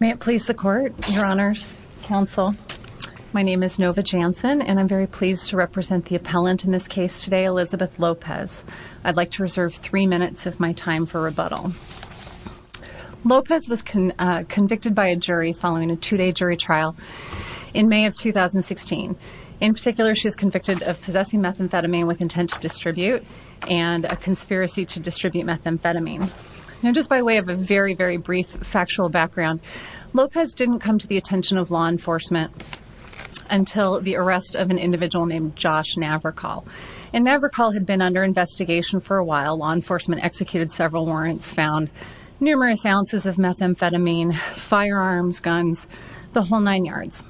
May it please the court, your honors, counsel. My name is Nova Jansen and I'm very pleased to represent the appellant in this case today, Elizabeth Lopez. I'd like to reserve three minutes of my time for rebuttal. Lopez was convicted by a jury following a two-day jury trial in May of 2016. In particular, she was convicted of possessing methamphetamine with intent to distribute and a conspiracy to distribute methamphetamine. Now, just by way of a very, very brief factual background, Lopez didn't come to the attention of law enforcement until the arrest of an individual named Josh Navrakol. And Navrakol had been under investigation for a while. Law enforcement executed several warrants, found numerous ounces of methamphetamine, firearms, guns, the whole nine yards.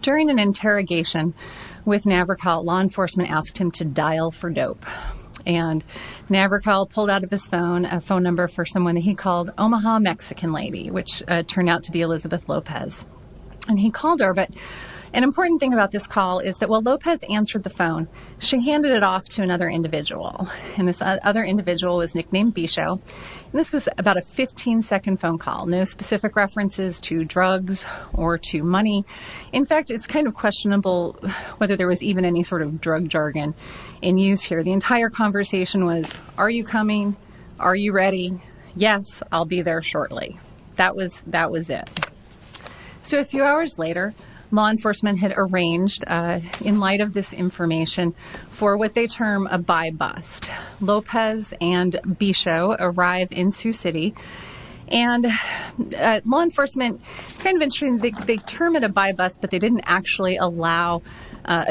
During an interrogation with Navrakol, law enforcement asked him to dial for dope. And Navrakol pulled out of his phone a phone number for someone that he called Omaha Mexican lady, which turned out to be Elizabeth Lopez. And he called her. But an important thing about this call is that while Lopez answered the phone, she handed it off to another individual. And this other individual was nicknamed Bisho. And this was about a 15 second phone call, no specific references to drugs or to money. In fact, it's kind of questionable whether there was even any sort of drug jargon in use here. The entire conversation was, are you coming? Are you ready? Yes, I'll be there shortly. That was, that was it. So a few hours later, law enforcement had arranged in light of this information for they term a by-bust. Lopez and Bisho arrived in Sioux City and law enforcement kind of ensuring they termed it a by-bust, but they didn't actually allow a